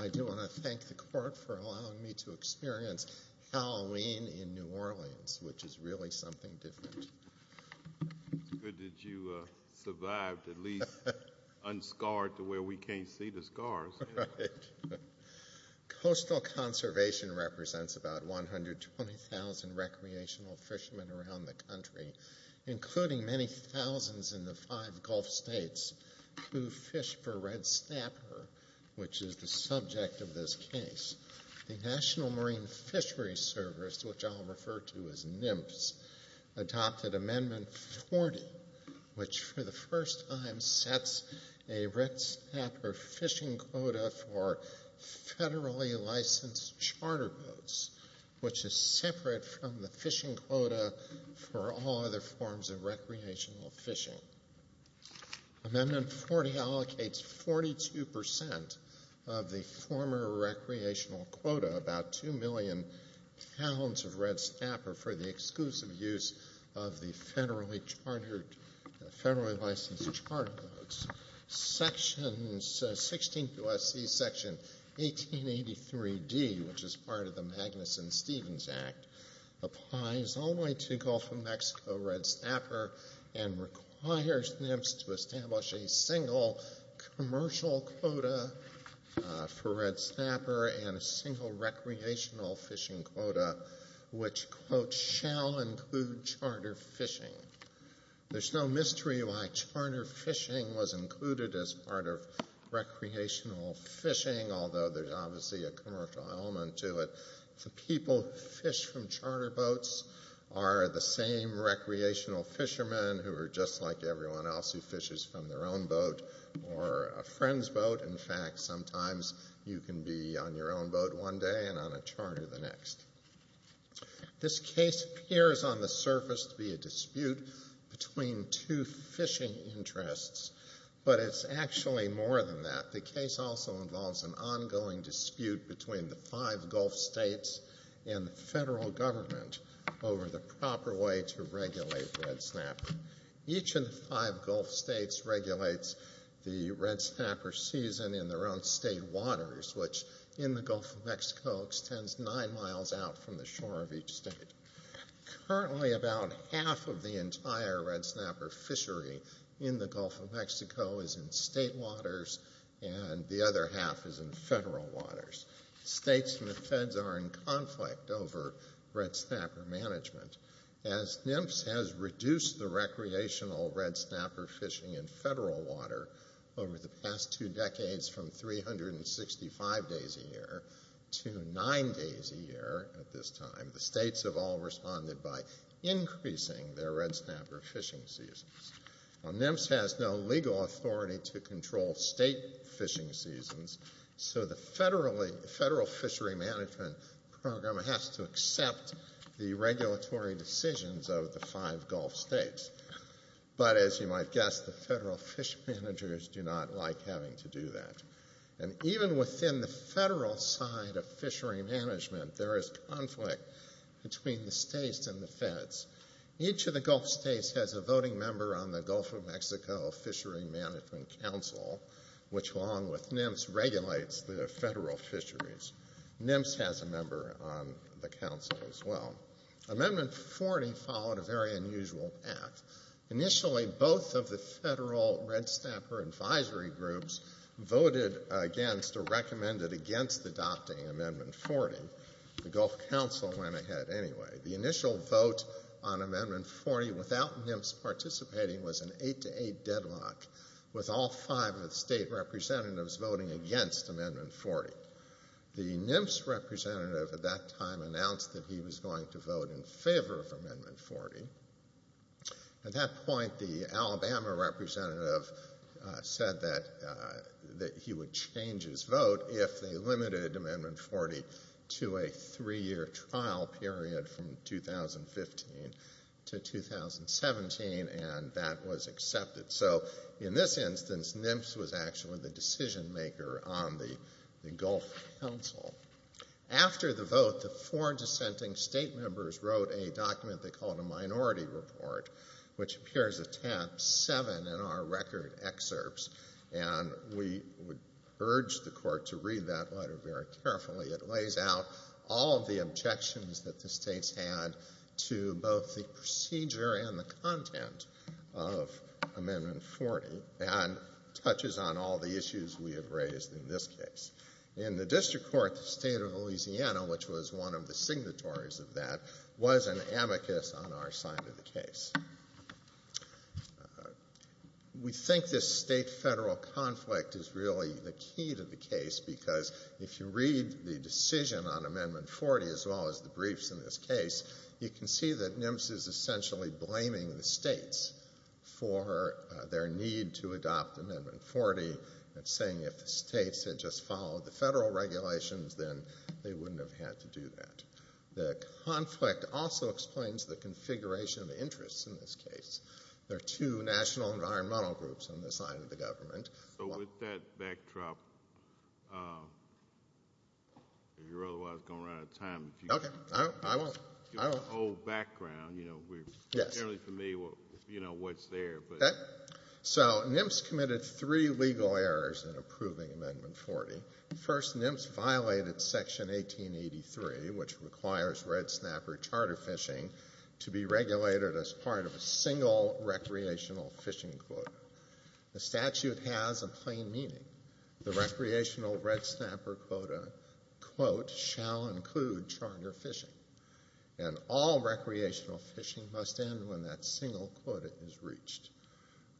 I do want to thank the Court for allowing me to experience Halloween in New Orleans, which is really something different. It's good that you survived, at least unscarred to where we can't see the scars. Right. Coastal Conservation represents about 120,000 recreational fishermen around the country, including many thousands in the five Gulf states who fish for red snapper, which is the subject of this case. The National Marine Fisheries Service, which I'll refer to as NMFS, adopted Amendment 40, which for the first time sets a red snapper fishing quota for federally licensed charter boats, which is separate from the fishing quota for all other forms of recreational fishing. Amendment 40 allocates 42% of the former recreational quota, about 2 million pounds of red snapper, for the exclusive use of the federally licensed charter boats. Section 16 U.S.C. 1883d, which is part of the Magnuson-Stevens Act, applies only to Gulf of Mexico red snapper and requires NMFS to establish a single commercial quota for red snapper and a single recreational fishing quota, which, quote, shall include charter fishing. There's no mystery why charter fishing was included as part of recreational fishing, although there's obviously a commercial element to it. The people who fish from charter boats are the same recreational fishermen who are just like everyone else who fishes from their own boat or a friend's boat. In fact, sometimes you can be on your own boat one day and on a charter the next. This case appears on the surface to be a dispute between two fishing interests, but it's actually more than that. The case also involves an ongoing dispute between the five Gulf states and the federal government over the proper way to regulate red snapper. Each of the five Gulf states regulates the red snapper season in their own state waters, which in the Gulf of Mexico extends nine miles out from the shore of each state. Currently about half of the entire red snapper fishery in the Gulf of Mexico is in state waters and the other half is in federal waters. States and the feds are in conflict over red snapper management. As NMFS has reduced the recreational red snapper fishing in federal water over the past two decades from 365 days a year to nine days a year at this time, the states have all responded by increasing their red snapper fishing seasons. NMFS has no legal authority to control state fishing seasons, so the federal fishery management program has to accept the regulatory decisions of the five Gulf states. But as you might guess, the federal fish managers do not like having to do that. And even within the federal side of fishery management, there is conflict between the states and the feds. Each of the Gulf states has a voting member on the Gulf of Mexico Fishery Management Council, which along with NMFS regulates the federal fisheries. NMFS has a member on the council as well. Amendment 40 followed a very unusual path. Initially both of the federal red snapper advisory groups voted against or recommended against adopting Amendment 40. The Gulf Council went ahead anyway. The initial vote on Amendment 40 without NMFS participating was an 8-8 deadlock with all five of the state representatives voting against Amendment 40. The NMFS representative at that time announced that he was going to vote in favor of Amendment 40. At that point, the Alabama representative said that he would change his vote if they limited Amendment 40 to a three-year trial period from 2015 to 2017, and that was accepted. So in this instance, NMFS was actually the decision maker on the Gulf Council. After the vote, the four dissenting state members wrote a document they called a minority report, which appears at tab 7 in our record excerpts, and we would urge the Court to read that letter very carefully. It lays out all of the objections that the states had to both the procedure and the content of Amendment 40 and touches on all the issues we have raised in this case. In the district court, the State of Louisiana, which was one of the signatories of that, was an amicus on our side of the case. We think this state-federal conflict is really the key to the case because if you read the decision on Amendment 40 as well as the briefs in this case, you can see that NMFS is essentially blaming the states for their need to adopt Amendment 40 and saying if the states had just followed the federal regulations, then they wouldn't have had to do that. The conflict also explains the configuration of interests in this case. There are two national environmental groups on this side of the government. So with that backdrop, you're otherwise going to run out of time. Okay, I won't. You have an old background. You're generally familiar with what's there. So NMFS committed three legal errors in approving Amendment 40. First, NMFS violated Section 1883, which requires red snapper charter fishing to be regulated as part of a single recreational fishing quota. The statute has a plain meaning. The recreational red snapper quota quote shall include charter fishing, and all recreational fishing must end when that single quota is reached.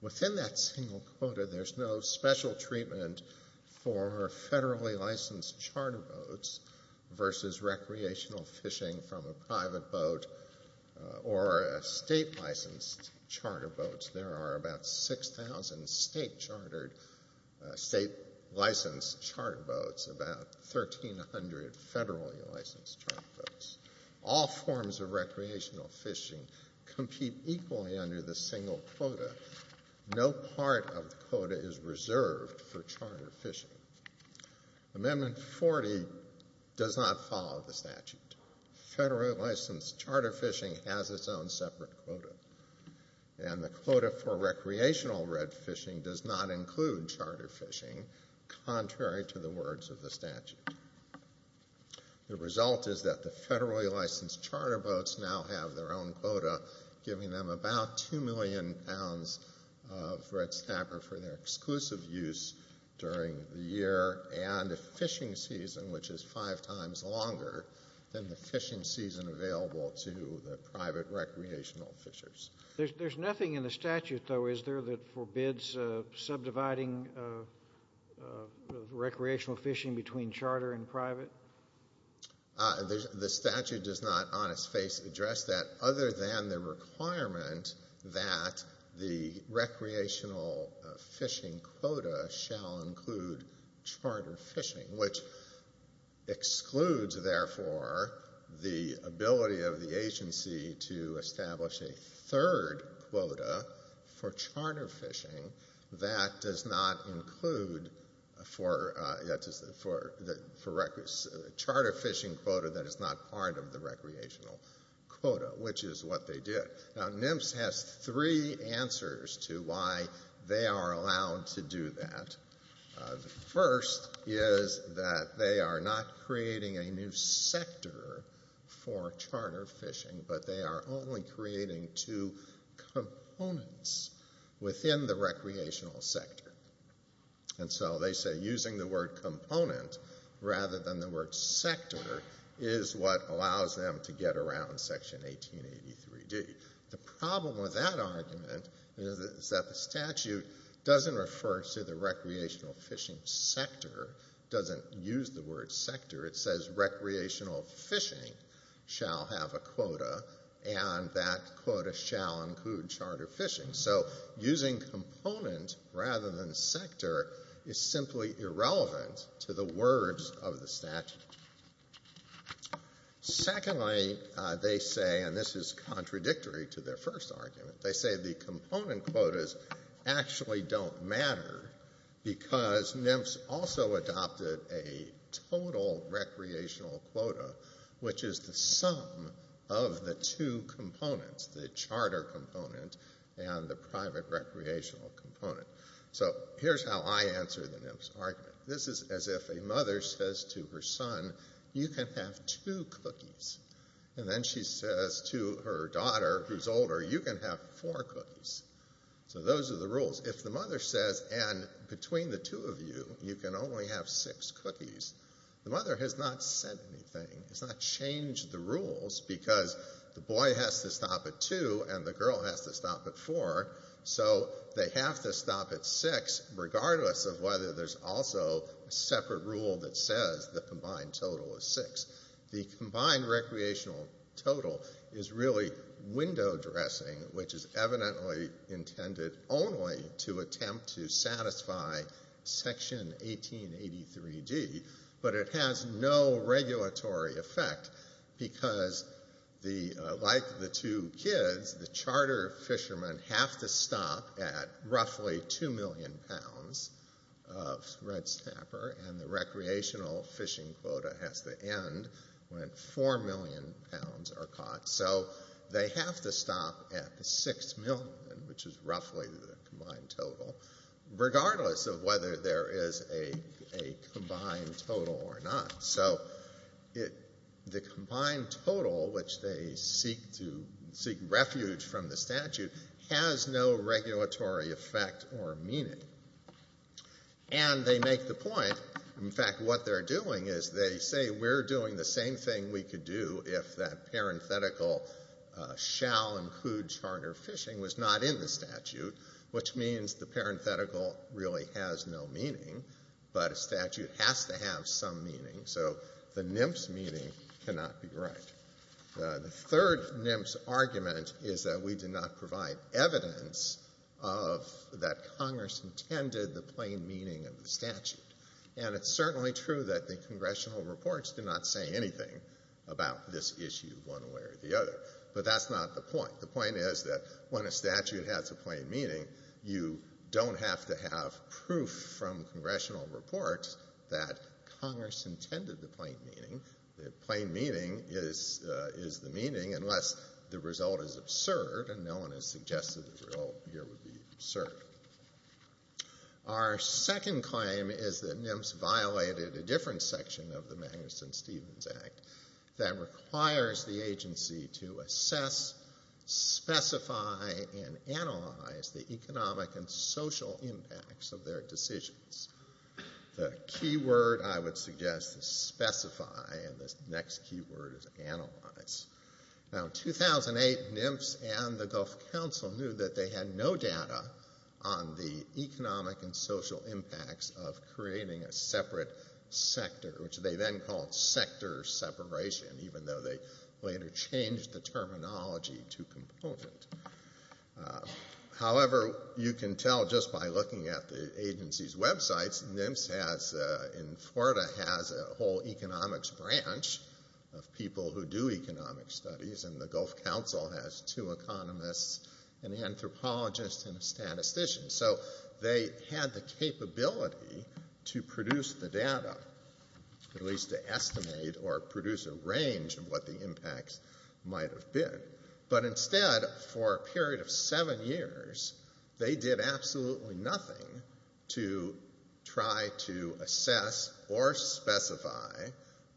Within that single quota, there's no special treatment for federally licensed charter boats versus recreational fishing from a private boat or a state-licensed charter boat. There are about 6,000 state-licensed charter boats, about 1,300 federally licensed charter boats. All forms of recreational fishing compete equally under this single quota. No part of the quota is reserved for charter fishing. Amendment 40 does not follow the statute. Federally licensed charter fishing has its own separate quota, and the quota for recreational red fishing does not include charter fishing, contrary to the words of the statute. The result is that the federally licensed charter boats now have their own quota, giving them about 2 million pounds of red snapper for their exclusive use during the year and a fishing season which is five times longer than the fishing season available to the private recreational fishers. There's nothing in the statute, though, is there, that forbids subdividing recreational fishing between charter and private? The statute does not on its face address that, other than the requirement that the recreational fishing quota shall include charter fishing, which excludes, therefore, the ability of the agency to establish a third quota for charter fishing that does not include a charter fishing quota that is not part of the recreational quota, which is what they did. Now, NMFS has three answers to why they are allowed to do that. The first is that they are not creating a new sector for charter fishing, but they are only creating two components within the recreational sector. And so they say using the word component rather than the word sector is what allows them to get around Section 1883D. The problem with that argument is that the statute doesn't refer to the recreational fishing sector, doesn't use the word sector. It says recreational fishing shall have a quota, and that quota shall include charter fishing. So using component rather than sector is simply irrelevant to the words of the statute. Secondly, they say, and this is contradictory to their first argument, they say the component quotas actually don't matter because NMFS also adopted a total recreational quota, which is the sum of the two components, the charter component and the private recreational component. So here's how I answer the NMFS argument. This is as if a mother says to her son, you can have two cookies. And then she says to her daughter, who's older, you can have four cookies. So those are the rules. If the mother says, and between the two of you, you can only have six cookies, the mother has not said anything. It's not changed the rules because the boy has to stop at two and the girl has to stop at four, so they have to stop at six regardless of whether there's also a separate rule that says the combined total is six. The combined recreational total is really window dressing, which is evidently intended only to attempt to satisfy Section 1883D, but it has no regulatory effect because, like the two kids, the charter fishermen have to stop at roughly 2 million pounds of red snapper and the recreational fishing quota has to end when 4 million pounds are caught. So they have to stop at the 6 million, which is roughly the combined total, regardless of whether there is a combined total or not. So the combined total, which they seek refuge from the statute, has no regulatory effect or meaning. And they make the point, in fact, what they're doing is they say, we're doing the same thing we could do if that parenthetical shall include charter fishing was not in the statute, which means the parenthetical really has no meaning, but a statute has to have some meaning. So the NMFS meaning cannot be right. The third NMFS argument is that we did not provide evidence of that Congress intended the plain meaning of the statute. And it's certainly true that the congressional reports did not say anything about this issue one way or the other. But that's not the point. The point is that when a statute has a plain meaning, you don't have to have proof from congressional reports that Congress intended the plain meaning. The plain meaning is the meaning unless the result is absurd and no one has suggested the result here would be absurd. Our second claim is that NMFS violated a different section of the Magnuson-Stevens Act that requires the agency to assess, specify, and analyze the economic and social impacts of their decisions. The key word I would suggest is specify, and the next key word is analyze. Now in 2008, NMFS and the Gulf Council knew that they had no data on the economic and social impacts of creating a separate sector, which they then called sector separation, even though they later changed the terminology to component. However, you can tell just by looking at the agency's websites, NMFS in Florida has a whole economics branch of people who do economic studies, and the Gulf Council has two economists, an anthropologist, and a statistician. So they had the capability to produce the data, at least to estimate or produce a range of what the impacts might have been. But instead, for a period of seven years, they did absolutely nothing to try to assess or specify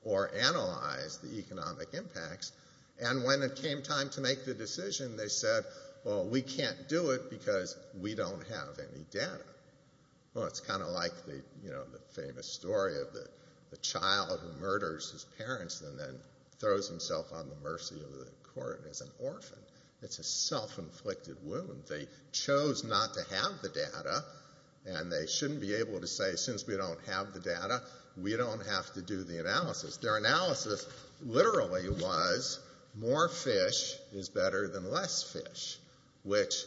or analyze the economic impacts, and when it came time to make the decision, they said, well, we can't do it because we don't have any data. Well, it's kind of like the famous story of the child who murders his parents and then throws himself on the mercy of the court as an orphan. It's a self-inflicted wound. They chose not to have the data, and they shouldn't be able to say, since we don't have the data, we don't have to do the analysis. Their analysis literally was more fish is better than less fish, which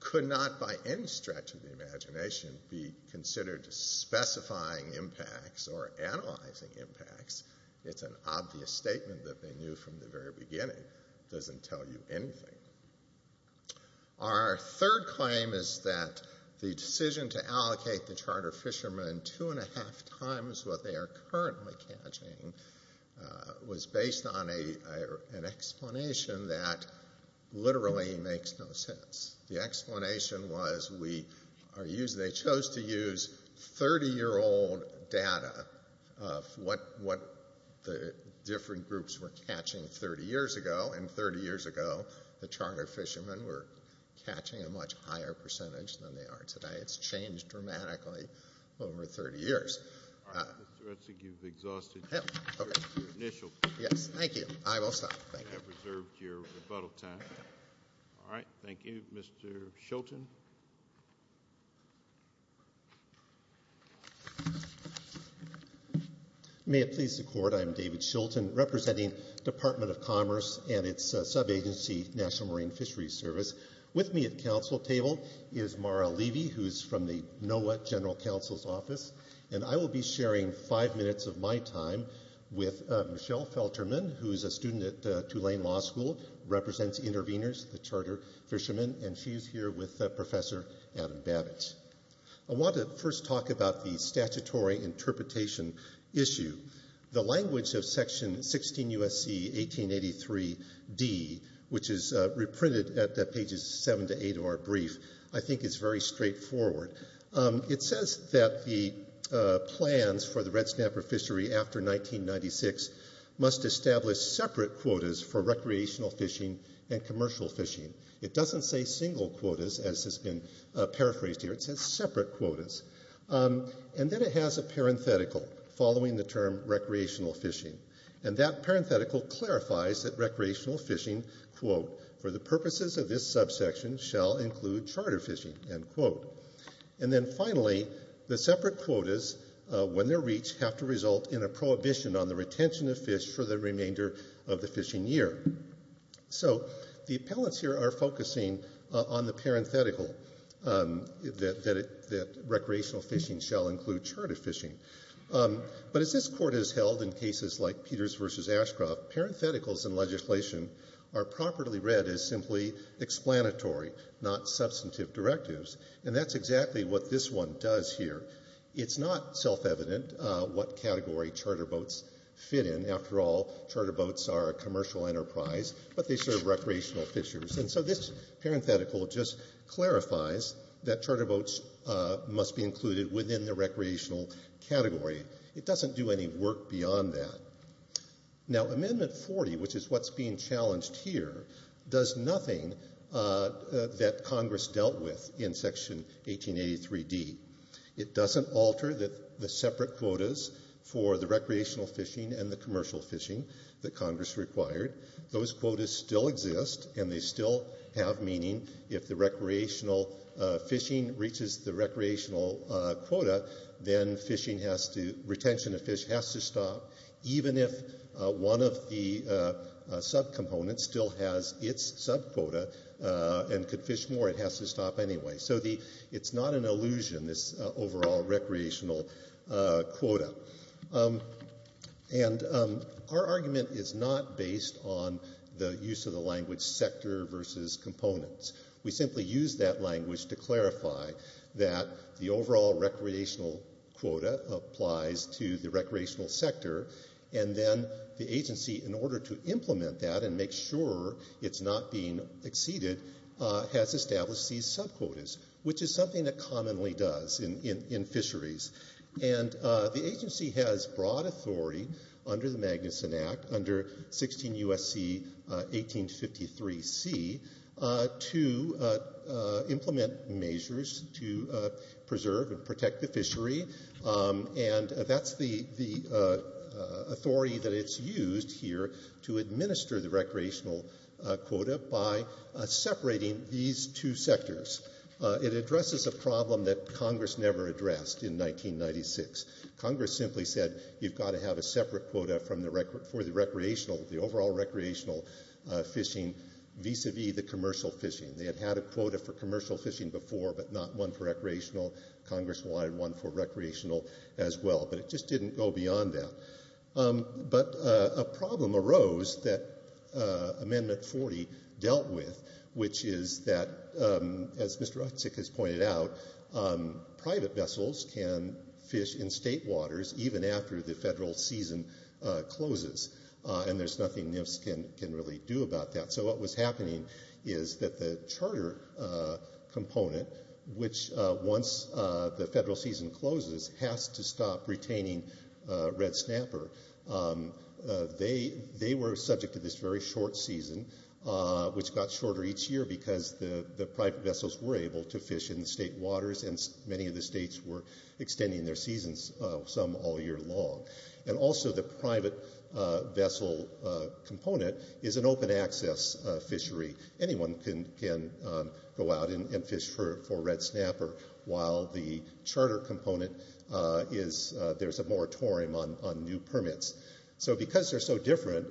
could not, by any stretch of the imagination, be considered specifying impacts or analyzing impacts. It's an obvious statement that they knew from the very beginning. It doesn't tell you anything. Our third claim is that the decision to allocate the charter fishermen two and a half times what they are currently catching was based on an explanation that literally makes no sense. The explanation was they chose to use 30-year-old data of what the different groups were catching 30 years ago, and 30 years ago the charter fishermen were catching a much higher percentage than they are today. It's changed dramatically over 30 years. All right. Mr. Utzig, you've exhausted your initial time. Yes. Thank you. I will stop. Thank you. You have reserved your rebuttal time. All right. Thank you. Mr. Shilton. May it please the court, I am David Shilton, representing the Department of Commerce and its sub-agency, National Marine Fisheries Service. With me at the council table is Mara Levy, who is from the NOAA General Counsel's Office, and I will be sharing five minutes of my time with Michelle Felterman, who is a student at Tulane Law School, represents interveners, the charter fishermen, and she is here with Professor Adam Babich. I want to first talk about the statutory interpretation issue. The language of Section 16 U.S.C. 1883d, which is reprinted at pages 7 to 8 of our brief, I think is very straightforward. It says that the plans for the Red Snapper fishery after 1996 must establish separate quotas for recreational fishing and commercial fishing. It doesn't say single quotas, as has been paraphrased here. It says separate quotas. And then it has a parenthetical following the term recreational fishing, and that parenthetical clarifies that recreational fishing, quote, for the purposes of this subsection, shall include charter fishing, end quote. And then finally, the separate quotas, when they're reached, have to result in a prohibition on the retention of fish for the remainder of the fishing year. So the appellants here are focusing on the parenthetical that recreational fishing shall include charter fishing. But as this Court has held in cases like Peters v. Ashcroft, parentheticals in legislation are properly read as simply explanatory, not substantive directives. And that's exactly what this one does here. It's not self-evident what category charter boats fit in. After all, charter boats are a commercial enterprise, but they serve recreational fishers. And so this parenthetical just clarifies that charter boats must be included within the recreational category. It doesn't do any work beyond that. Now, Amendment 40, which is what's being challenged here, does nothing that Congress dealt with in Section 1883d. It doesn't alter the separate quotas for the recreational fishing and the commercial fishing that Congress required. Those quotas still exist, and they still have meaning. If the recreational fishing reaches the recreational quota, then retention of fish has to stop. Even if one of the subcomponents still has its subquota and could fish more, it has to stop anyway. So it's not an illusion, this overall recreational quota. And our argument is not based on the use of the language We simply use that language to clarify that the overall recreational quota applies to the recreational sector, and then the agency, in order to implement that and make sure it's not being exceeded, has established these subquotas, which is something that commonly does in fisheries. And the agency has broad authority, under the Magnuson Act, under 16 U.S.C. 1853c, to implement measures to preserve and protect the fishery. And that's the authority that it's used here to administer the recreational quota by separating these two sectors. It addresses a problem that Congress never addressed in 1996. Congress simply said you've got to have a separate quota for the overall recreational fishing vis-a-vis the commercial fishing. They had had a quota for commercial fishing before, but not one for recreational. Congress wanted one for recreational as well, but it just didn't go beyond that. But a problem arose that Amendment 40 dealt with, which is that, as Mr. Utzik has pointed out, private vessels can fish in state waters even after the federal season closes, and there's nothing NIFS can really do about that. So what was happening is that the charter component, which, once the federal season closes, has to stop retaining red snapper. They were subject to this very short season, which got shorter each year because the private vessels were able to fish in state waters, and many of the states were extending their seasons, some all year long. And also the private vessel component is an open-access fishery. Anyone can go out and fish for red snapper, while the charter component, there's a moratorium on new permits. So because they're so different,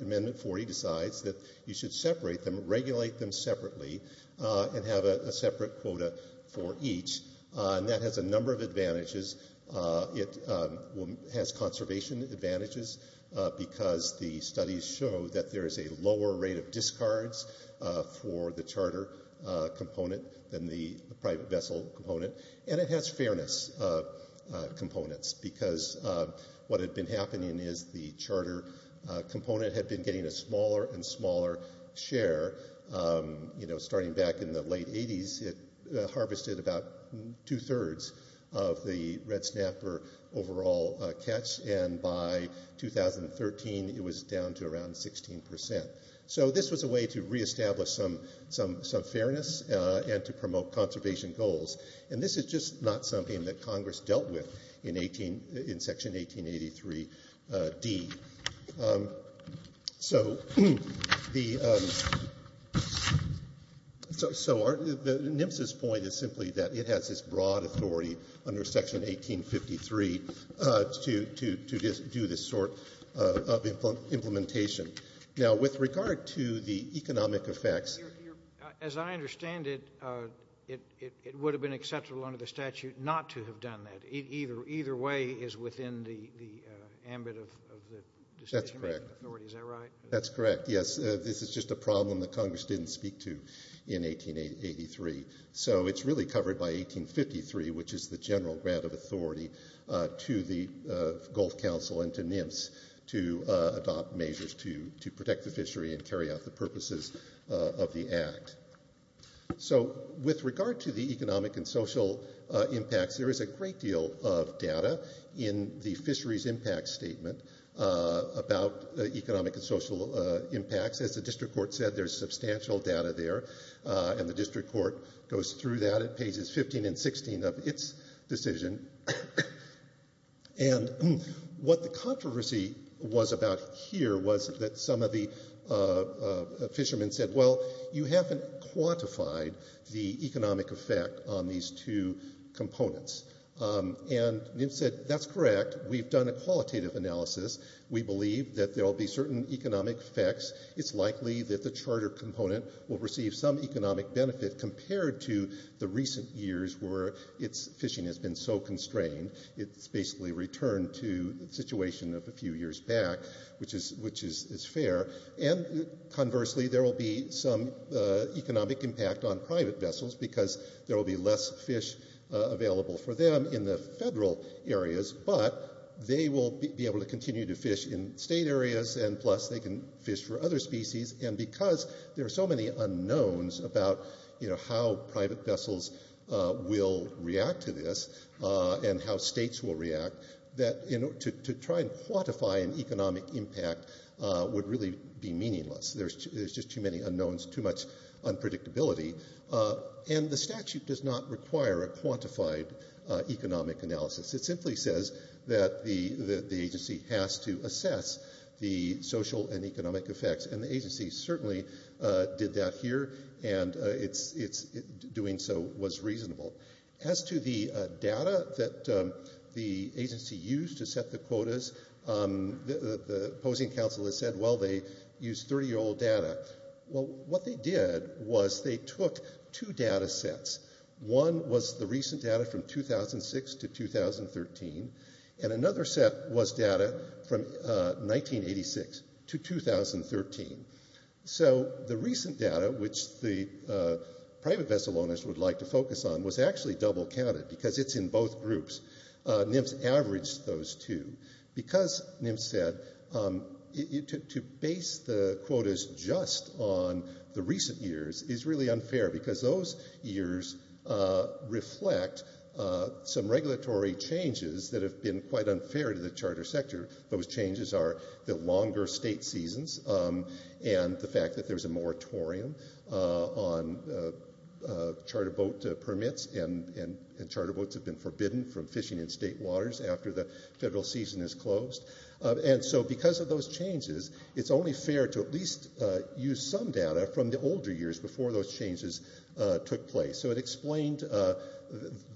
Amendment 40 decides that you should separate them, regulate them separately, and have a separate quota for each, and that has a number of advantages. It has conservation advantages because the studies show that there is a lower rate of discards for the charter component than the private vessel component. And it has fairness components because what had been happening is the charter component had been getting a smaller and smaller share. You know, starting back in the late 80s, it harvested about two-thirds of the red snapper overall catch, and by 2013, it was down to around 16%. So this was a way to reestablish some fairness and to promote conservation goals. And this is just not something that Congress dealt with in Section 1883D. So the NMSA's point is simply that it has this broad authority under Section 1853 to do this sort of implementation. Now, with regard to the economic effects, as I understand it, it would have been acceptable under the statute not to have done that. Either way is within the ambit of the decision-making authority. Is that right? That's correct, yes. This is just a problem that Congress didn't speak to in 1883. So it's really covered by 1853, which is the general grant of authority to the Gulf Council and to NMSA to adopt measures to protect the fishery and carry out the purposes of the Act. So with regard to the economic and social impacts, there is a great deal of data in the Fisheries Impact Statement about economic and social impacts. As the district court said, there's substantial data there. And the district court goes through that at pages 15 and 16 of its decision. And what the controversy was about here was that some of the fishermen said, well, you haven't quantified the economic effect on these two components. And NMSA said, that's correct. We've done a qualitative analysis. We believe that there will be certain economic effects. It's likely that the charter component will receive some economic benefit compared to the recent years where fishing has been so constrained. It's basically returned to the situation of a few years back, which is fair. And conversely, there will be some economic impact on private vessels because there will be less fish available for them in the federal areas, but they will be able to continue to fish in state areas, and plus they can fish for other species. And because there are so many unknowns about how private vessels will react to this and how states will react, to try and quantify an economic impact would really be meaningless. There's just too many unknowns, too much unpredictability. And the statute does not require a quantified economic analysis. It simply says that the agency has to assess the social and economic effects, and the agency certainly did that here, and doing so was reasonable. As to the data that the agency used to set the quotas, the opposing counsel has said, well, they used 30-year-old data. Well, what they did was they took two data sets. One was the recent data from 2006 to 2013, and another set was data from 1986 to 2013. So the recent data, which the private vessel owners would like to focus on, was actually double-counted because it's in both groups. NIMS averaged those two. Because, NIMS said, to base the quotas just on the recent years is really unfair because those years reflect some regulatory changes that have been quite unfair to the charter sector. Those changes are the longer state seasons and the fact that there's a moratorium on charter boat permits and charter boats have been forbidden from fishing in state waters after the federal season is closed. And so because of those changes, it's only fair to at least use some data from the older years before those changes took place. So it explained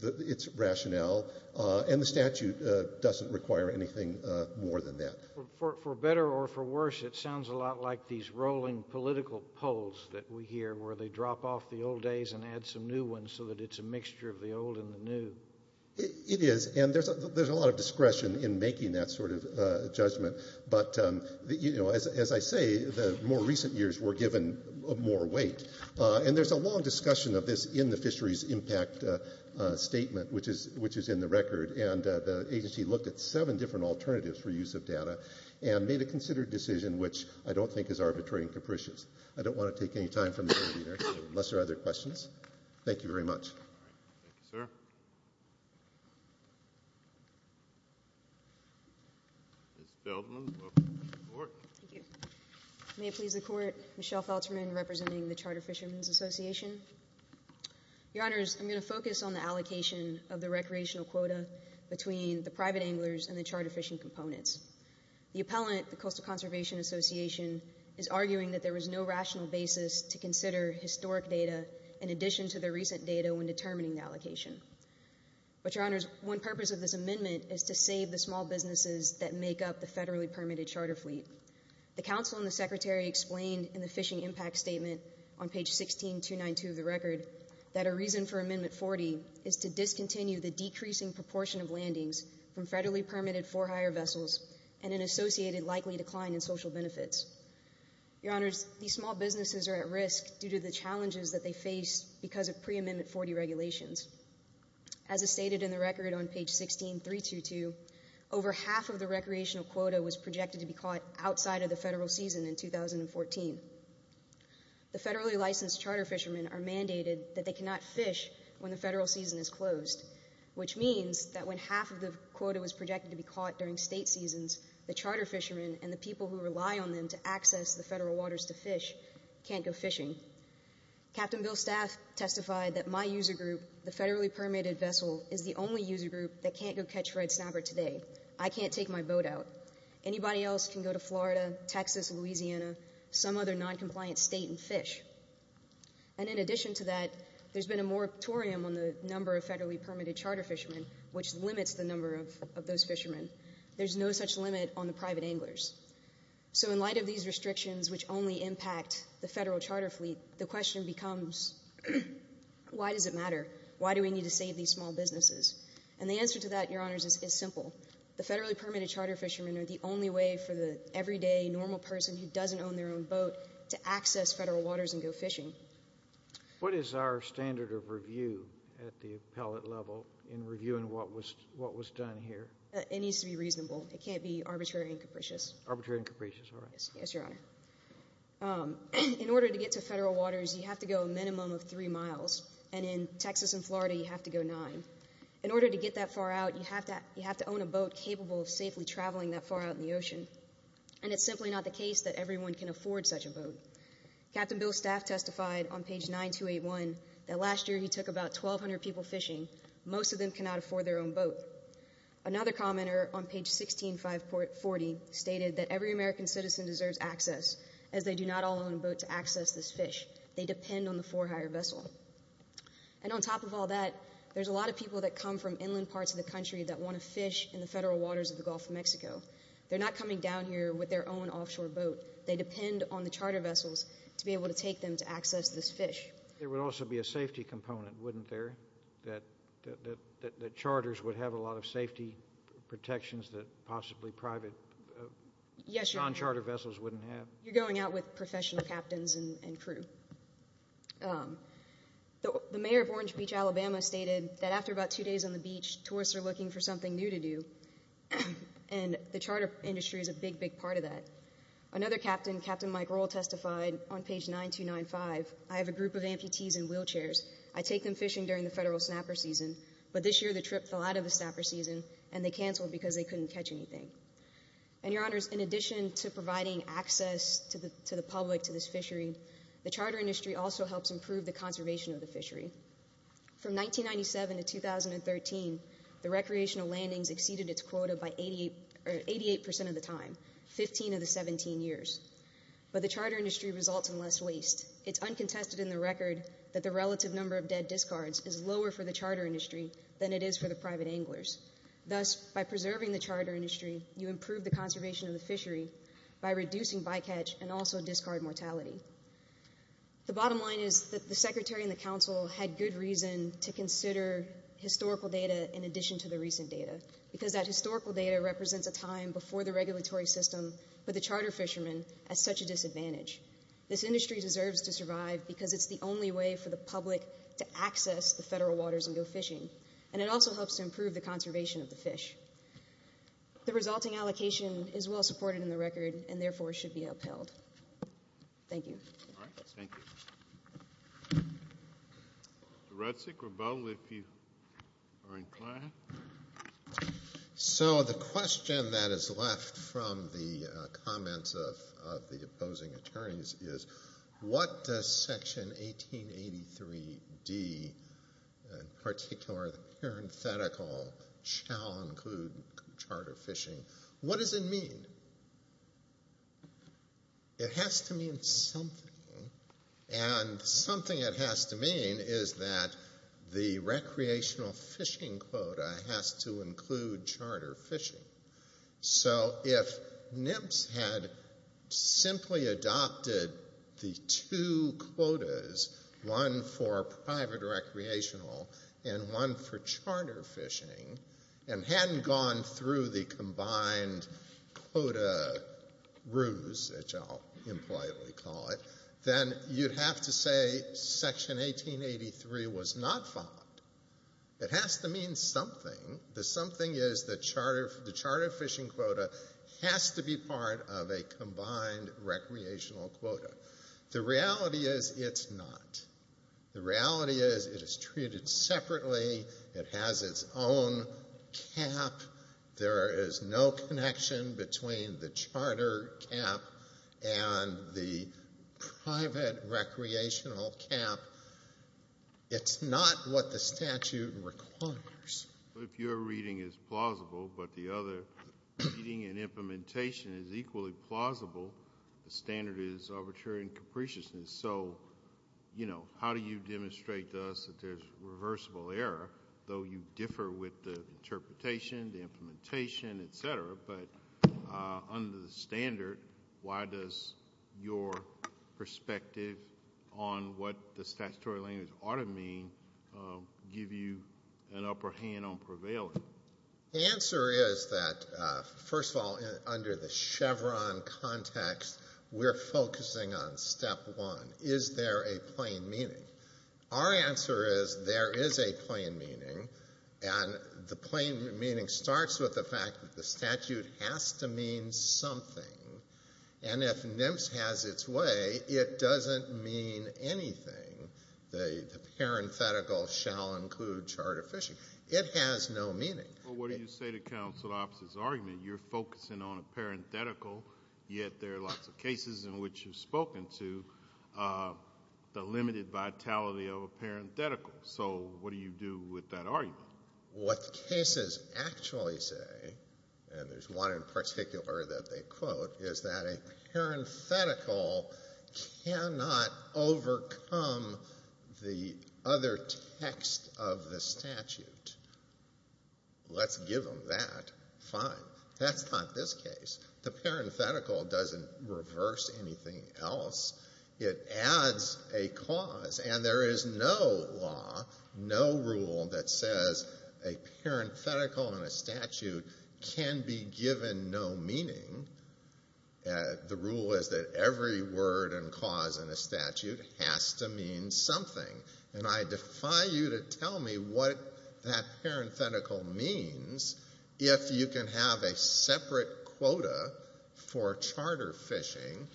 its rationale, and the statute doesn't require anything more than that. For better or for worse, it sounds a lot like these rolling political polls that we hear where they drop off the old days and add some new ones so that it's a mixture of the old and the new. It is, and there's a lot of discretion in making that sort of judgment. But, you know, as I say, the more recent years were given more weight. And there's a long discussion of this in the Fisheries Impact Statement, which is in the record, and the agency looked at seven different alternatives for use of data and made a considered decision which I don't think is arbitrary and capricious. I don't want to take any time from there, unless there are other questions. Thank you very much. All right. Thank you, sir. Ms. Feldman, welcome to the court. Thank you. May it please the Court, Michelle Feldman, representing the Charter Fishermen's Association. Your Honors, I'm going to focus on the allocation of the recreational quota between the private anglers and the charter fishing components. The appellant, the Coastal Conservation Association, is arguing that there was no rational basis to consider historic data in addition to the recent data when determining the allocation. But, Your Honors, one purpose of this amendment is to save the small businesses that make up the federally permitted charter fleet. The counsel and the secretary explained in the Fishing Impact Statement on page 16292 of the record that a reason for Amendment 40 is to discontinue the decreasing proportion of landings from federally permitted for hire vessels and an associated likely decline in social benefits. Your Honors, these small businesses are at risk due to the challenges that they face because of pre-Amendment 40 regulations. As is stated in the record on page 16322, over half of the recreational quota was projected to be caught outside of the federal season in 2014. The federally licensed charter fishermen are mandated that they cannot fish when the federal season is closed, which means that when half of the quota was projected to be caught during state seasons, the charter fishermen and the people who rely on them to access the federal waters to fish can't go fishing. Captain Bill Staff testified that my user group, the federally permitted vessel, is the only user group that can't go catch red snapper today. I can't take my boat out. Anybody else can go to Florida, Texas, Louisiana, some other noncompliant state and fish. And in addition to that, there's been a moratorium on the number of federally permitted charter fishermen, which limits the number of those fishermen. There's no such limit on the private anglers. So in light of these restrictions, which only impact the federal charter fleet, the question becomes, why does it matter? Why do we need to save these small businesses? And the answer to that, Your Honors, is simple. The federally permitted charter fishermen are the only way for the everyday, normal person who doesn't own their own boat to access federal waters and go fishing. What is our standard of review at the appellate level in reviewing what was done here? It needs to be reasonable. It can't be arbitrary and capricious. Arbitrary and capricious, all right. Yes, Your Honor. In order to get to federal waters, you have to go a minimum of 3 miles, and in Texas and Florida, you have to go 9. In order to get that far out, you have to own a boat capable of safely traveling that far out in the ocean. And it's simply not the case that everyone can afford such a boat. Captain Bill Staff testified on page 9281 that last year he took about 1,200 people fishing. Most of them cannot afford their own boat. Another commenter on page 16540 stated that every American citizen deserves access, as they do not all own a boat to access this fish. They depend on the for hire vessel. And on top of all that, there's a lot of people that come from inland parts of the country that want to fish in the federal waters of the Gulf of Mexico. They're not coming down here with their own offshore boat. They depend on the charter vessels to be able to take them to access this fish. There would also be a safety component, wouldn't there, that charters would have a lot of safety protections that possibly private non-charter vessels wouldn't have? Yes, sir. You're going out with professional captains and crew. The mayor of Orange Beach, Alabama, stated that after about two days on the beach, tourists are looking for something new to do, and the charter industry is a big, big part of that. Another captain, Captain Mike Rowell, testified on page 9295, I have a group of amputees in wheelchairs. I take them fishing during the federal snapper season, but this year the trip fell out of the snapper season, and they canceled because they couldn't catch anything. And, Your Honors, in addition to providing access to the public to this fishery, the charter industry also helps improve the conservation of the fishery. From 1997 to 2013, the recreational landings exceeded its quota by 88% of the time, 15 of the 17 years. But the charter industry results in less waste. It's uncontested in the record that the relative number of dead discards is lower for the charter industry than it is for the private anglers. Thus, by preserving the charter industry, you improve the conservation of the fishery by reducing bycatch and also discard mortality. The bottom line is that the secretary and the council had good reason to consider historical data in addition to the recent data, because that historical data represents a time before the regulatory system put the charter fishermen at such a disadvantage. This industry deserves to survive because it's the only way for the public to access the federal waters and go fishing, and it also helps to improve the conservation of the fish. The resulting allocation is well supported in the record and therefore should be upheld. Thank you. All right. Thank you. Mr. Retsig or Bowen, if you are inclined. So the question that is left from the comments of the opposing attorneys is what does Section 1883D, in particular the parenthetical, shall include charter fishing? What does it mean? It has to mean something, and something it has to mean is that the recreational fishing quota has to include charter fishing. So if NIPS had simply adopted the two quotas, one for private recreational and one for charter fishing, and hadn't gone through the combined quota ruse, which I'll impolitely call it, then you'd have to say Section 1883 was not followed. It has to mean something. The something is the charter fishing quota has to be part of a combined recreational quota. The reality is it's not. The reality is it is treated separately. It has its own cap. There is no connection between the charter cap and the private recreational cap. It's not what the statute requires. If your reading is plausible, but the other reading and implementation is equally plausible, the standard is arbitrary and capriciousness. So, you know, how do you demonstrate to us that there's reversible error, though you differ with the interpretation, the implementation, etc., but under the standard, why does your perspective on what the statutory language ought to mean give you an upper hand on prevailing? The answer is that, first of all, under the Chevron context, we're focusing on step one. Is there a plain meaning? Our answer is there is a plain meaning, and the plain meaning starts with the fact that the statute has to mean something, and if NMFS has its way, it doesn't mean anything. The parenthetical shall include charter fishing. It has no meaning. Well, what do you say to counsel Opps' argument? You're focusing on a parenthetical, yet there are lots of cases in which you've spoken to the limited vitality of a parenthetical. So what do you do with that argument? What cases actually say, and there's one in particular that they quote, is that a parenthetical cannot overcome the other text of the statute. Let's give them that. Fine. That's not this case. The parenthetical doesn't reverse anything else. It adds a cause, and there is no law, no rule, that says a parenthetical in a statute can be given no meaning. The rule is that every word and cause in a statute has to mean something, and I defy you to tell me what that parenthetical means if you can have a separate quota for charter fishing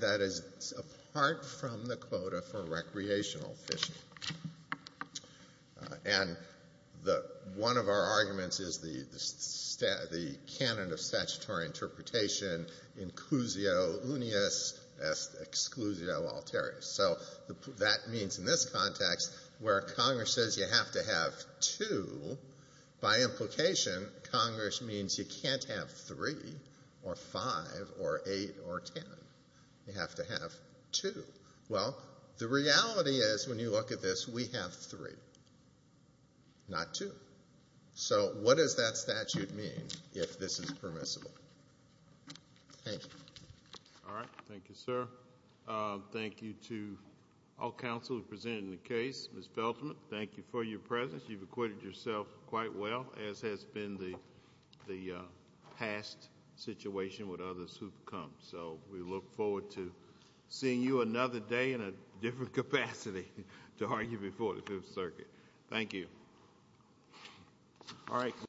that is apart from the quota for recreational fishing. And one of our arguments is the canon of statutory interpretation, inclusio unius, exclusio alterius. So that means in this context, where Congress says you have to have two, by implication, Congress means you can't have three or five or eight or ten. You have to have two. Well, the reality is, when you look at this, we have three, not two. So what does that statute mean if this is permissible? Thank you. All right. Thank you, sir. Thank you to all counsel who presented the case. Ms. Feldman, thank you for your presence. You've equated yourself quite well, as has been the past situation with others who've come. So we look forward to seeing you another day in a different capacity to argue before the Fifth Circuit. Thank you.